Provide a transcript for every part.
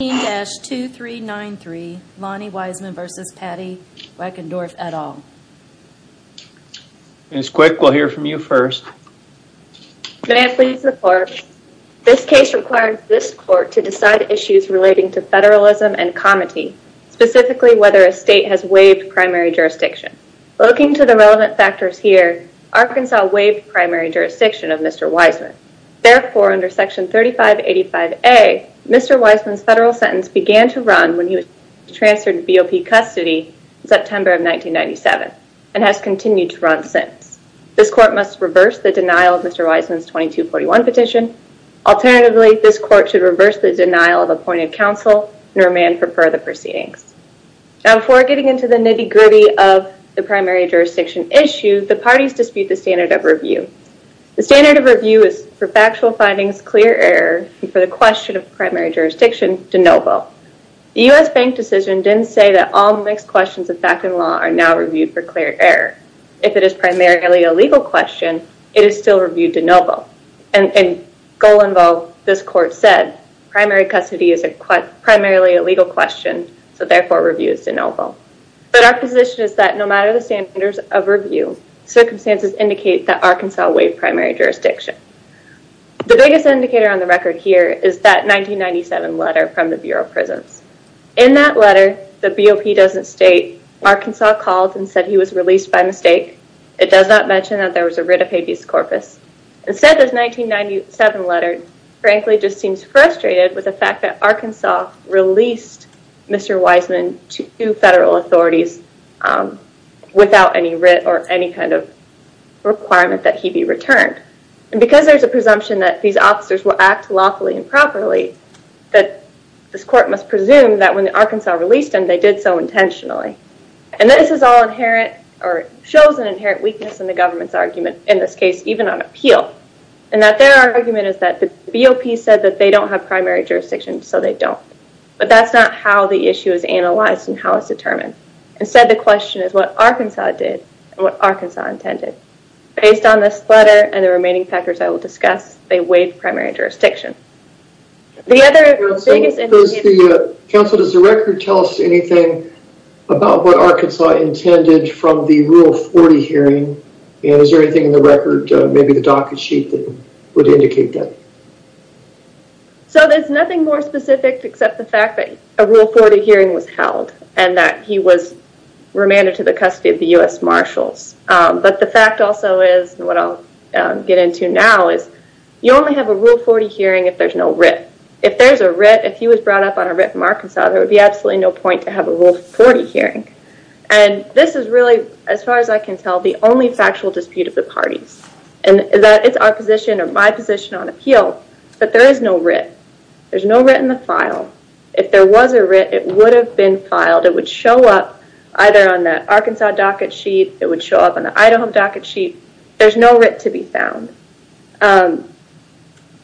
15-2393 Lonnie Wiseman v. Patti Wachendorf, et al. Ms. Quick, we'll hear from you first. May I please report? This case requires this court to decide issues relating to federalism and comity, specifically whether a state has waived primary jurisdiction. Looking to the relevant factors here, Arkansas waived primary jurisdiction of Mr. Wiseman. Therefore, under section 3585A, Mr. Wiseman's federal sentence began to run when he was transferred to BOP custody in September of 1997, and has continued to run since. This court must reverse the denial of Mr. Wiseman's 2241 petition. Alternatively, this court should reverse the denial of appointed counsel and remand for further proceedings. Now, before getting into the nitty-gritty of the primary jurisdiction issue, the parties dispute the standard of review. The standard of review is for factual findings, clear error, and for the question of primary jurisdiction, de novo. The U.S. bank decision didn't say that all mixed questions of fact and law are now reviewed for clear error. If it is primarily a legal question, it is still reviewed de novo. And goal involved, this court said, primary custody is primarily a legal question, so therefore review is de novo. But our position is that no matter the standards of review, circumstances indicate that Arkansas waived primary jurisdiction. The biggest indicator on the record here is that 1997 letter from the Bureau of Prisons. In that letter, the BOP doesn't state Arkansas called and said he was released by mistake. It does not mention that there was a writ of habeas corpus. Instead, this 1997 letter frankly just seems frustrated with the fact that Arkansas released Mr. Wiseman to federal authorities without any writ or any kind of requirement that he be returned. And because there's a presumption that these officers will act lawfully and properly, this court must presume that when Arkansas released him, they did so intentionally. And this is all inherent or shows an inherent weakness in the government's argument, in this case, even on appeal. And that their argument is that the BOP said that they don't have primary jurisdiction, so they don't. But that's not how the issue is analyzed and how it's determined. Instead, the question is what Arkansas did and what Arkansas intended. Based on this letter and the remaining factors I will discuss, they waived primary jurisdiction. Does the record tell us anything about what Arkansas intended from the Rule 40 hearing? And is there anything in the record, maybe the docket sheet, that would indicate that? So there's nothing more specific except the fact that a Rule 40 hearing was held and that he was remanded to the custody of the U.S. Marshals. But the fact also is, what I'll get into now, is you only have a Rule 40 hearing if there's no writ. If there's a writ, if he was brought up on a writ from Arkansas, there would be absolutely no point to have a Rule 40 hearing. And this is really, as far as I can tell, the only factual dispute of the parties. And it's our position or my position on appeal that there is no writ. There's no writ in the file. If there was a writ, it would have been filed. It would show up either on that Arkansas docket sheet, it would show up on the Idaho docket sheet. There's no writ to be found.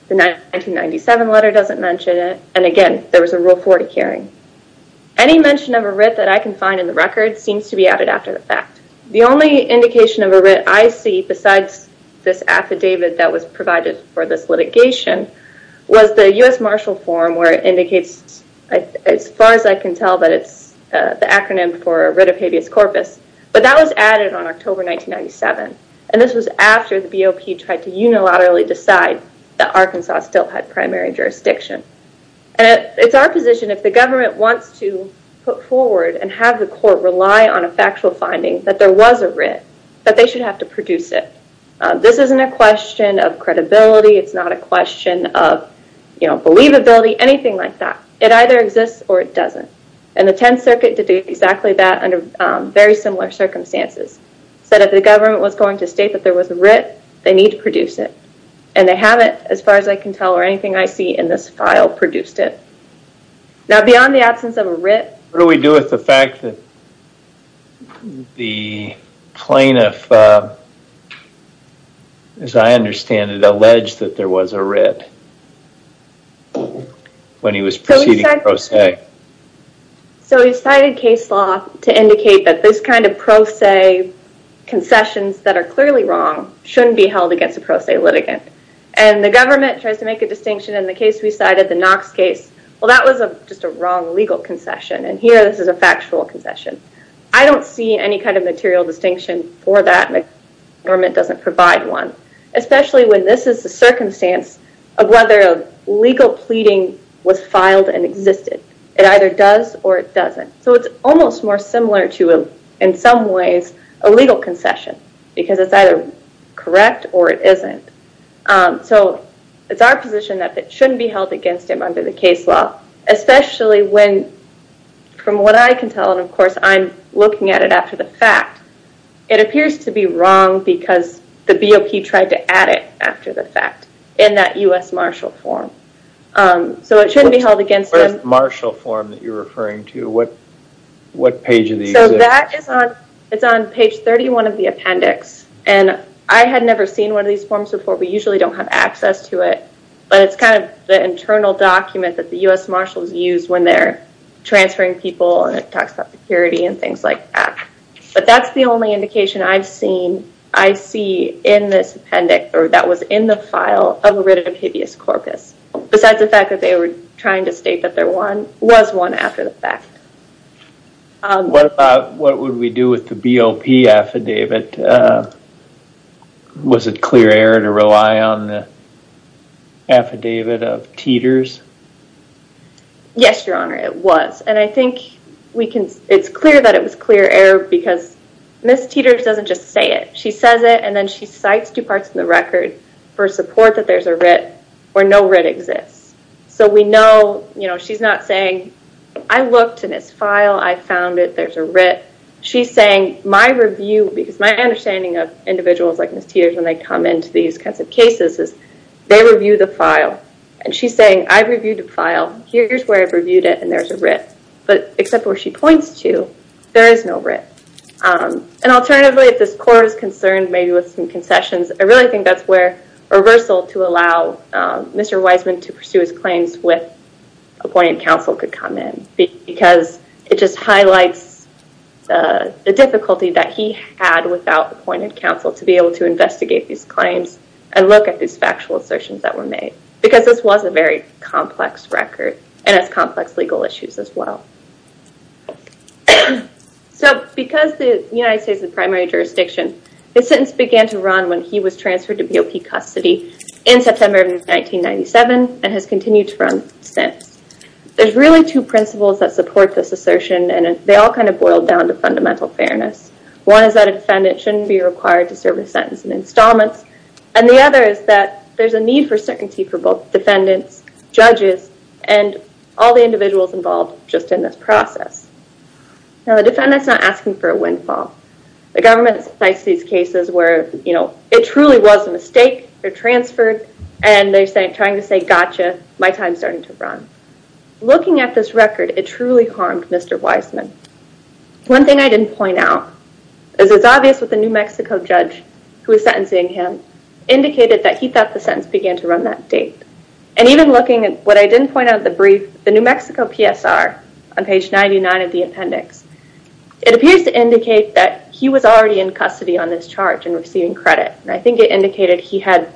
The 1997 letter doesn't mention it. And again, there was a Rule 40 hearing. Any mention of a writ that I can find in the record seems to be added after the fact. The only indication of a writ I see, besides this affidavit that was provided for this litigation, was the U.S. Marshal form where it indicates, as far as I can tell, that it's the acronym for writ of habeas corpus. But that was added on October 1997. And this was after the BOP tried to unilaterally decide that Arkansas still had primary jurisdiction. And it's our position, if the government wants to put forward and have the court rely on a factual finding that there was a writ, that they should have to produce it. This isn't a question of credibility, it's not a question of believability, anything like that. It either exists or it doesn't. And the Tenth Circuit did exactly that under very similar circumstances. Said if the government was going to state that there was a writ, they need to produce it. And they haven't, as far as I can tell, or anything I see in this file, produced it. Now, beyond the absence of a writ... What do we do with the fact that the plaintiff, as I understand it, alleged that there was a writ when he was proceeding a pro se? So he cited case law to indicate that this kind of pro se concessions that are clearly wrong shouldn't be held against a pro se litigant. And the government tries to make a distinction in the case we cited, the Knox case. Well, that was just a wrong legal concession. And here this is a factual concession. I don't see any kind of material distinction for that. The government doesn't provide one. Especially when this is the circumstance of whether a legal pleading was filed and existed. It either does or it doesn't. So it's almost more similar to, in some ways, a legal concession. Because it's either correct or it isn't. So it's our position that it shouldn't be held against him under the case law. Especially when, from what I can tell, and of course I'm looking at it after the fact, it appears to be wrong because the BOP tried to add it after the fact. In that U.S. Marshall form. So it shouldn't be held against him. What is the Marshall form that you're referring to? What page of the appendix? So that is on page 31 of the appendix. And I had never seen one of these forms before. We usually don't have access to it. But it's kind of the internal document that the U.S. Marshalls use when they're transferring people. And it talks about security and things like that. But that's the only indication I've seen, I see in this appendix, or that was in the file, of a writ of habeas corpus. Besides the fact that they were trying to state that there was one after the fact. What about, what would we do with the BOP affidavit? Was it clear error to rely on the affidavit of Teeters? Yes, Your Honor, it was. And I think it's clear that it was clear error because Ms. Teeters doesn't just say it. She says it and then she cites two parts of the record for support that there's a writ or no writ exists. So we know, you know, she's not saying, I looked in this file, I found it, there's a writ. She's saying my review, because my understanding of individuals like Ms. Teeters when they come into these kinds of cases is they review the file. And she's saying I've reviewed the file, here's where I've reviewed it and there's a writ. But except where she points to, there is no writ. And alternatively, if this court is concerned maybe with some concessions, I really think that's where reversal to allow Mr. Wiseman to pursue his claims with appointed counsel could come in. Because it just highlights the difficulty that he had without appointed counsel to be able to investigate these claims and look at these factual assertions that were made. Because this was a very complex record and has complex legal issues as well. So because the United States is the primary jurisdiction, the sentence began to run when he was transferred to BOP custody in September of 1997 and has continued to run since. There's really two principles that support this assertion and they all kind of boil down to fundamental fairness. One is that a defendant shouldn't be required to serve a sentence in installments. And the other is that there's a need for certainty for both defendants, judges, and all the individuals involved just in this process. Now the defendant's not asking for a windfall. The government cites these cases where, you know, it truly was a mistake. They're transferred and they're trying to say, gotcha, my time's starting to run. Looking at this record, it truly harmed Mr. Wiseman. One thing I didn't point out is it's obvious that the New Mexico judge who was sentencing him indicated that he thought the sentence began to run that date. And even looking at what I didn't point out in the brief, the New Mexico PSR on page 99 of the appendix, it appears to indicate that he was already in custody on this charge and receiving credit. And I think it indicated he had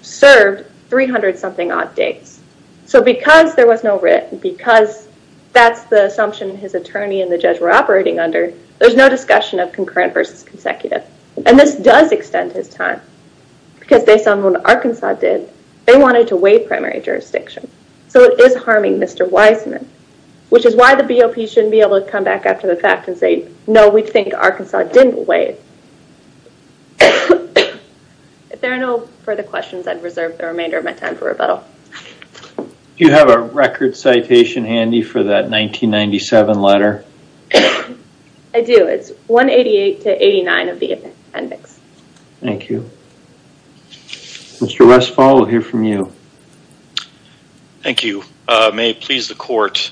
served 300-something odd dates. So because there was no writ, because that's the assumption his attorney and the judge were operating under, there's no discussion of concurrent versus consecutive. And this does extend his time. Because based on what Arkansas did, they wanted to waive primary jurisdiction. So it is harming Mr. Wiseman. Which is why the BOP shouldn't be able to come back after the fact and say, no, we think Arkansas didn't waive. If there are no further questions, I'd reserve the remainder of my time for rebuttal. Do you have a record citation handy for that 1997 letter? I do. It's 188-89 of the appendix. Thank you. Mr. Westphal, we'll hear from you. Thank you. May it please the court.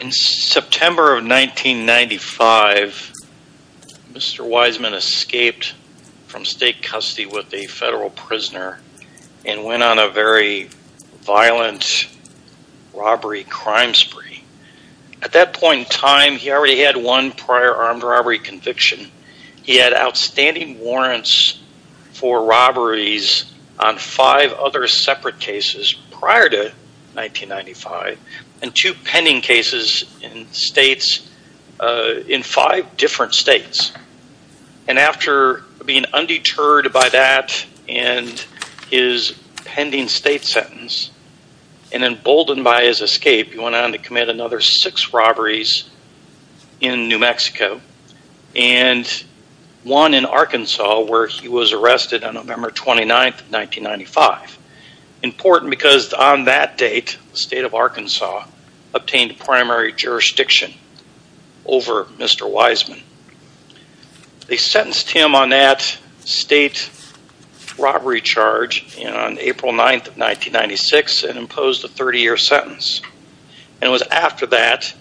In September of 1995, Mr. Wiseman escaped from state custody with a federal prisoner and went on a very violent robbery crime spree. At that point in time, he already had one prior armed robbery conviction. He had outstanding warrants for robberies on five other separate cases prior to 1995. And two pending cases in states, in five different states. And after being undeterred by that and his pending state sentence, and emboldened by his escape, he went on to commit another six robberies in New Mexico. And one in Arkansas where he was arrested on November 29, 1995. Important because on that date, the state of Arkansas obtained primary jurisdiction over Mr. Wiseman. They sentenced him on that state robbery charge on April 9, 1996 and imposed a 30-year sentence. And it was after that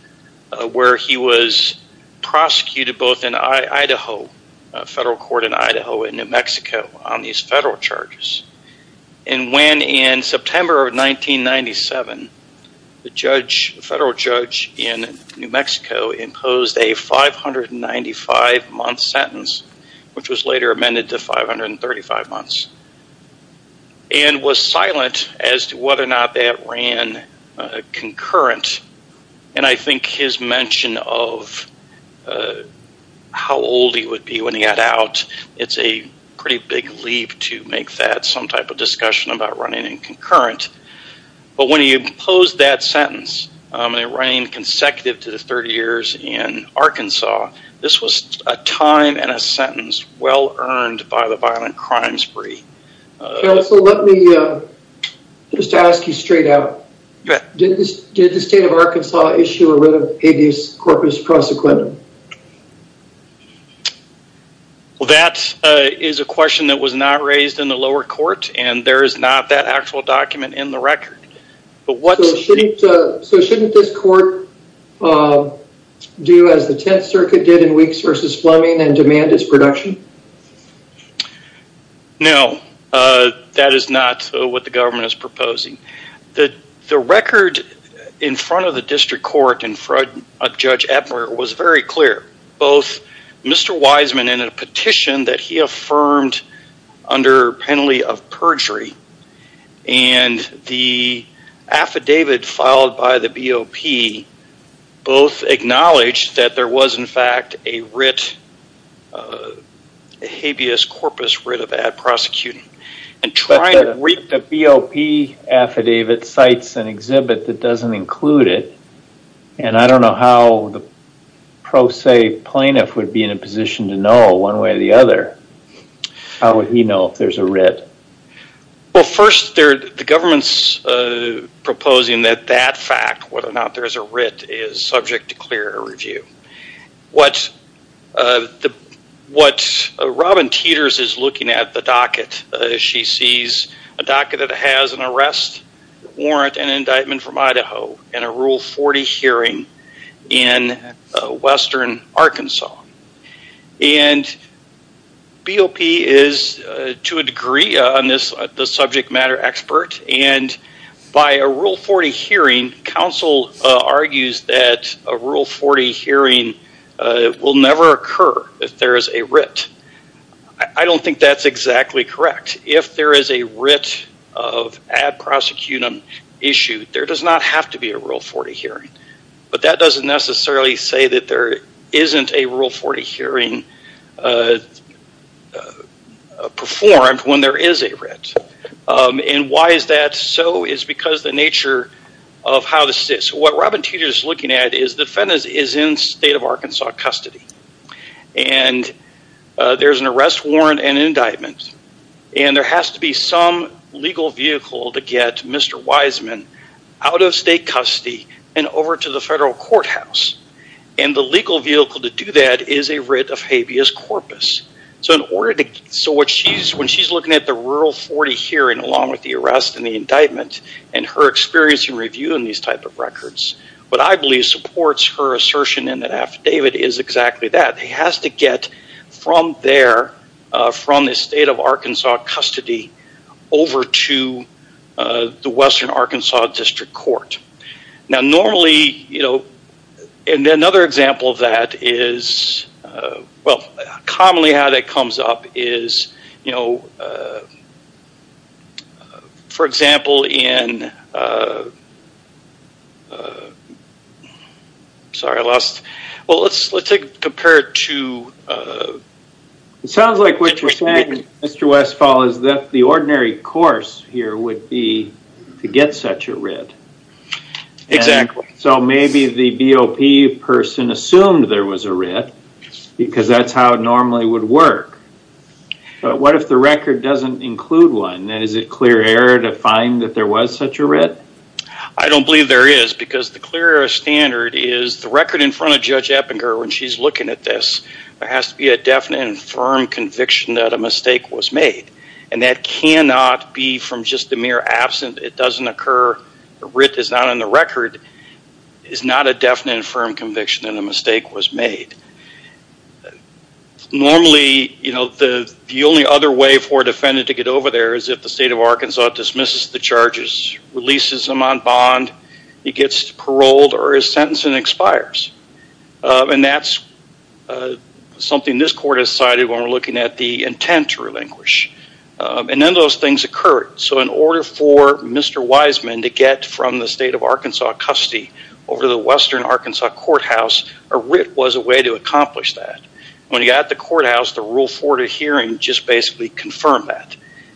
where he was prosecuted both in Idaho, federal court in Idaho and New Mexico on these federal charges. And when in September of 1997, the federal judge in New Mexico imposed a 595-month sentence, which was later amended to 535 months. And was silent as to whether or not that ran concurrent. And I think his mention of how old he would be when he got out, it's a pretty big leap to make that some type of discussion about running in concurrent. But when he imposed that sentence, running consecutive to the 30 years in Arkansas, this was a time and a sentence well-earned by the violent crime spree. Counsel, let me just ask you straight out. Did the state of Arkansas issue a writ of habeas corpus prosecutum? Well, that is a question that was not raised in the lower court, and there is not that actual document in the record. So shouldn't this court do as the Tenth Circuit did in Weeks v. Fleming and demand its production? No, that is not what the government is proposing. The record in front of the district court in front of Judge Epner was very clear. Both Mr. Wiseman in a petition that he affirmed under penalty of perjury and the affidavit filed by the BOP both acknowledged that there was in fact a writ, a habeas corpus writ of ad prosecutum. But the BOP affidavit cites an exhibit that doesn't include it, and I don't know how the pro se plaintiff would be in a position to know one way or the other. Well, first, the government is proposing that that fact, whether or not there is a writ, is subject to clear or review. What Robin Teeters is looking at, the docket, she sees a docket that has an arrest warrant and an indictment from Idaho and a Rule 40 hearing in western Arkansas. And BOP is, to a degree, the subject matter expert, and by a Rule 40 hearing, counsel argues that a Rule 40 hearing will never occur if there is a writ. I don't think that's exactly correct. If there is a writ of ad prosecutum issued, there does not have to be a Rule 40 hearing. But that doesn't necessarily say that there isn't a Rule 40 hearing performed when there is a writ. And why is that so is because the nature of how the state, so what Robin Teeters is looking at is the defendant is in state of Arkansas custody. And there's an arrest warrant and indictment. And there has to be some legal vehicle to get Mr. Wiseman out of state custody and over to the federal courthouse. And the legal vehicle to do that is a writ of habeas corpus. So when she's looking at the Rule 40 hearing along with the arrest and the indictment and her experience in reviewing these type of records, what I believe supports her assertion in the affidavit is exactly that. He has to get from there, from the state of Arkansas custody, over to the Western Arkansas District Court. Now normally, you know, and another example of that is, well, commonly how that comes up is, you know, for example, in, sorry, I lost, well, let's compare it to. It sounds like what you're saying, Mr. Westphal, is that the ordinary course here would be to get such a writ. Exactly. So maybe the BOP person assumed there was a writ because that's how it normally would work. But what if the record doesn't include one? Is it clear error to find that there was such a writ? I don't believe there is because the clear error standard is the record in front of Judge Eppinger when she's looking at this, there has to be a definite and firm conviction that a mistake was made. And that cannot be from just the mere absence. It doesn't occur. The writ is not on the record. It's not a definite and firm conviction that a mistake was made. Normally, you know, the only other way for a defendant to get over there is if the state of Arkansas dismisses the charges, releases him on bond, he gets paroled or his sentence expires. And that's something this court has cited when we're looking at the intent to relinquish. And then those things occur. So in order for Mr. Wiseman to get from the state of Arkansas custody over to the western Arkansas courthouse, a writ was a way to accomplish that. When he got to the courthouse, the rule forwarded hearing just basically confirmed that.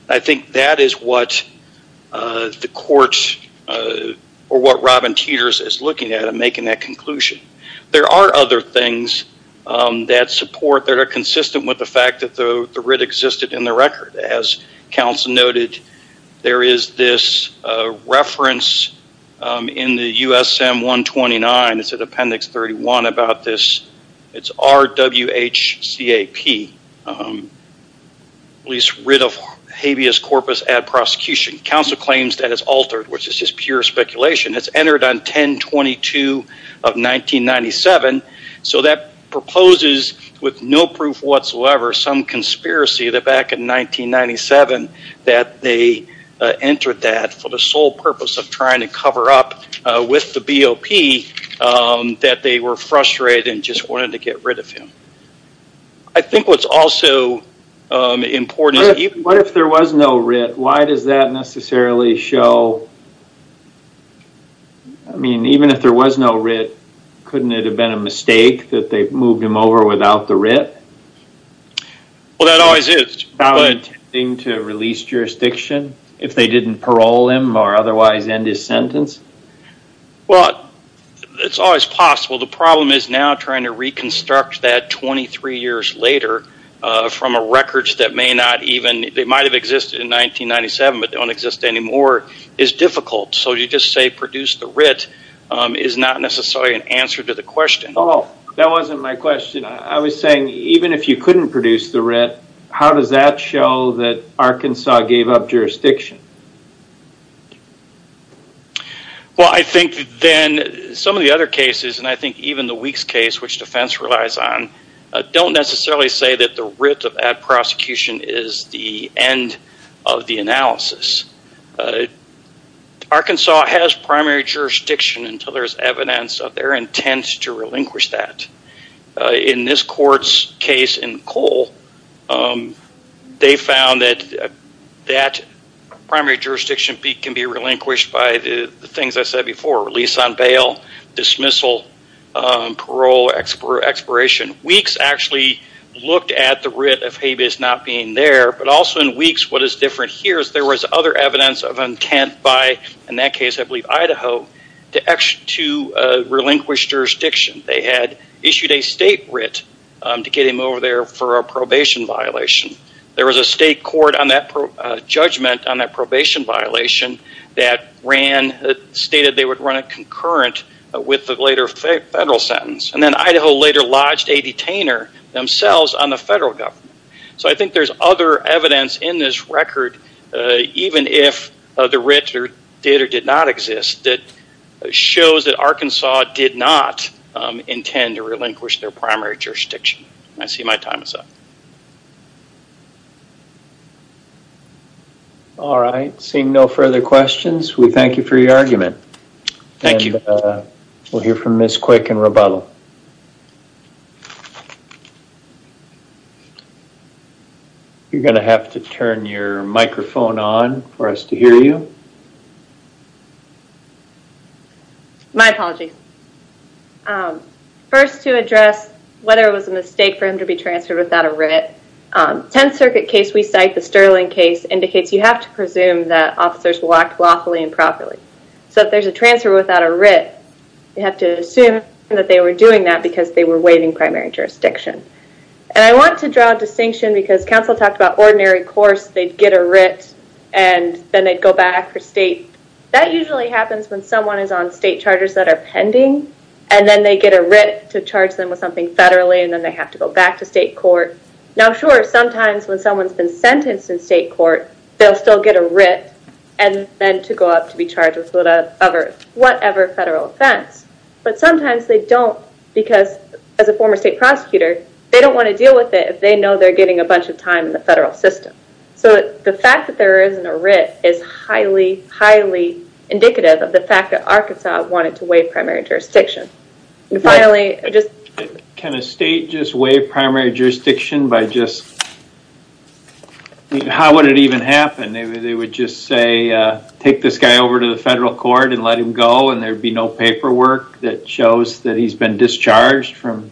I think that is what the court or what Robin Teeters is looking at in making that conclusion. There are other things that support that are consistent with the fact that the writ existed in the record. As counsel noted, there is this reference in the USM 129. It's in appendix 31 about this. It's RWHCAP, police writ of habeas corpus at prosecution. Counsel claims that it's altered, which is just pure speculation. It's entered on 1022 of 1997. So that proposes with no proof whatsoever some conspiracy that back in 1997 that they entered that for the sole purpose of trying to cover up with the BOP that they were frustrated and just wanted to get rid of him. I think what's also important... If there was no writ, why does that necessarily show... I mean, even if there was no writ, couldn't it have been a mistake that they moved him over without the writ? Well, that always is. Intending to release jurisdiction if they didn't parole him or otherwise end his sentence? Well, it's always possible. The problem is now trying to reconstruct that 23 years later from records that may not even... They might have existed in 1997, but they don't exist anymore is difficult. So you just say produce the writ is not necessarily an answer to the question. That wasn't my question. I was saying even if you couldn't produce the writ, how does that show that Arkansas gave up jurisdiction? Well, I think then some of the other cases, and I think even the Weeks case, which defense relies on, don't necessarily say that the writ of ad prosecution is the end of the analysis. Arkansas has primary jurisdiction until there's evidence of their intent to relinquish that. In this court's case in Cole, they found that that primary jurisdiction can be relinquished by the things I said before, release on bail, dismissal, parole, expiration. Weeks actually looked at the writ of habeas not being there, but also in Weeks what is different here is there was other evidence of intent by, in that case I believe Idaho, to relinquish jurisdiction. They had issued a state writ to get him over there for a probation violation. There was a state court on that judgment on that probation violation that ran, stated they would run a concurrent with the later federal sentence. And then Idaho later lodged a detainer themselves on the federal government. So I think there's other evidence in this record, even if the writ did or did not exist, that shows that Arkansas did not intend to relinquish their primary jurisdiction. I see my time is up. All right. Seeing no further questions, we thank you for your argument. Thank you. We'll hear from Ms. Quick in rebuttal. You're going to have to turn your microphone on for us to hear you. My apologies. First to address whether it was a mistake for him to be transferred without a writ, 10th Circuit case we cite, the Sterling case, indicates you have to presume that officers walked lawfully and properly. So if there's a transfer without a writ, you have to assume that they were doing that because they were waiving primary jurisdiction. And I want to draw a distinction because counsel talked about ordinary course, they'd get a writ, and then they'd go back for state. That usually happens when someone is on state charges that are pending, and then they get a writ to charge them with something federally, and then they have to go back to state court. Now, sure, sometimes when someone's been sentenced in state court, they'll still get a writ, and then to go up to be charged with whatever federal offense. But sometimes they don't because, as a former state prosecutor, they don't want to deal with it if they know they're getting a bunch of time in the federal system. So the fact that there isn't a writ is highly, highly indicative of the fact that Arkansas wanted to waive primary jurisdiction. And finally, just... Can a state just waive primary jurisdiction by just... How would it even happen? They would just say, take this guy over to the federal court and let him go, and there'd be no paperwork that shows that he's been discharged from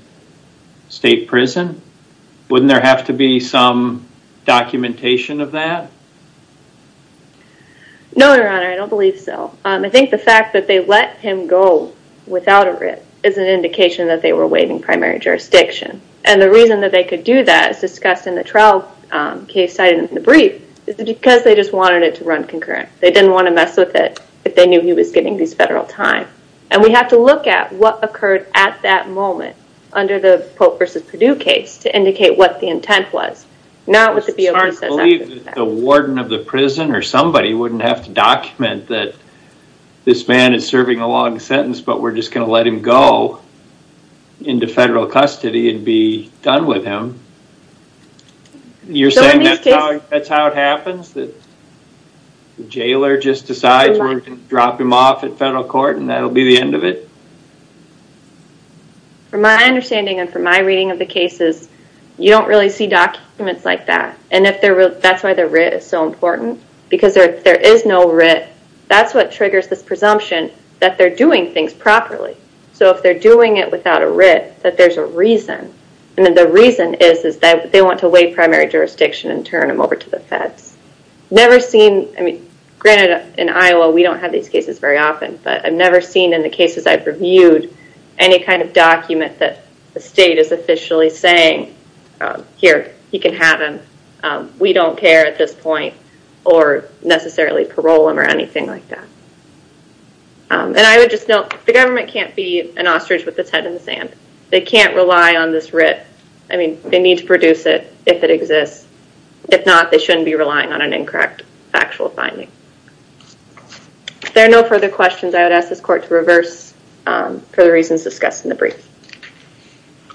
state prison? Wouldn't there have to be some documentation of that? No, Your Honor, I don't believe so. I think the fact that they let him go without a writ is an indication that they were waiving primary jurisdiction. And the reason that they could do that, as discussed in the trial case cited in the brief, is because they just wanted it to run concurrent. They didn't want to mess with it if they knew he was getting these federal time. And we have to look at what occurred at that moment under the Pope v. Perdue case to indicate what the intent was, not what the BOP says after that. You're saying that's how it happens? The jailer just decides we're going to drop him off at federal court and that'll be the end of it? From my understanding and from my reading of the cases, you don't really see documents like that. And that's why the writ is so important. Because if there is no writ, that's what triggers this presumption that they're doing things properly. So if they're doing it without a writ, that there's a reason. And the reason is that they want to waive primary jurisdiction and turn him over to the feds. Never seen, granted in Iowa we don't have these cases very often, but I've never seen in the cases I've reviewed any kind of document that the state is officially saying, here, you can have him. We don't care at this point. Or necessarily parole him or anything like that. And I would just note, the government can't be an ostrich with its head in the sand. They can't rely on this writ. I mean, they need to produce it if it exists. If not, they shouldn't be relying on an incorrect factual finding. If there are no further questions, I would ask this court to reverse for the reasons discussed in the brief.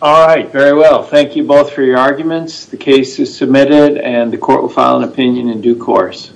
All right. Very well. Thank you both for your arguments. The case is submitted and the court will file an opinion in due course.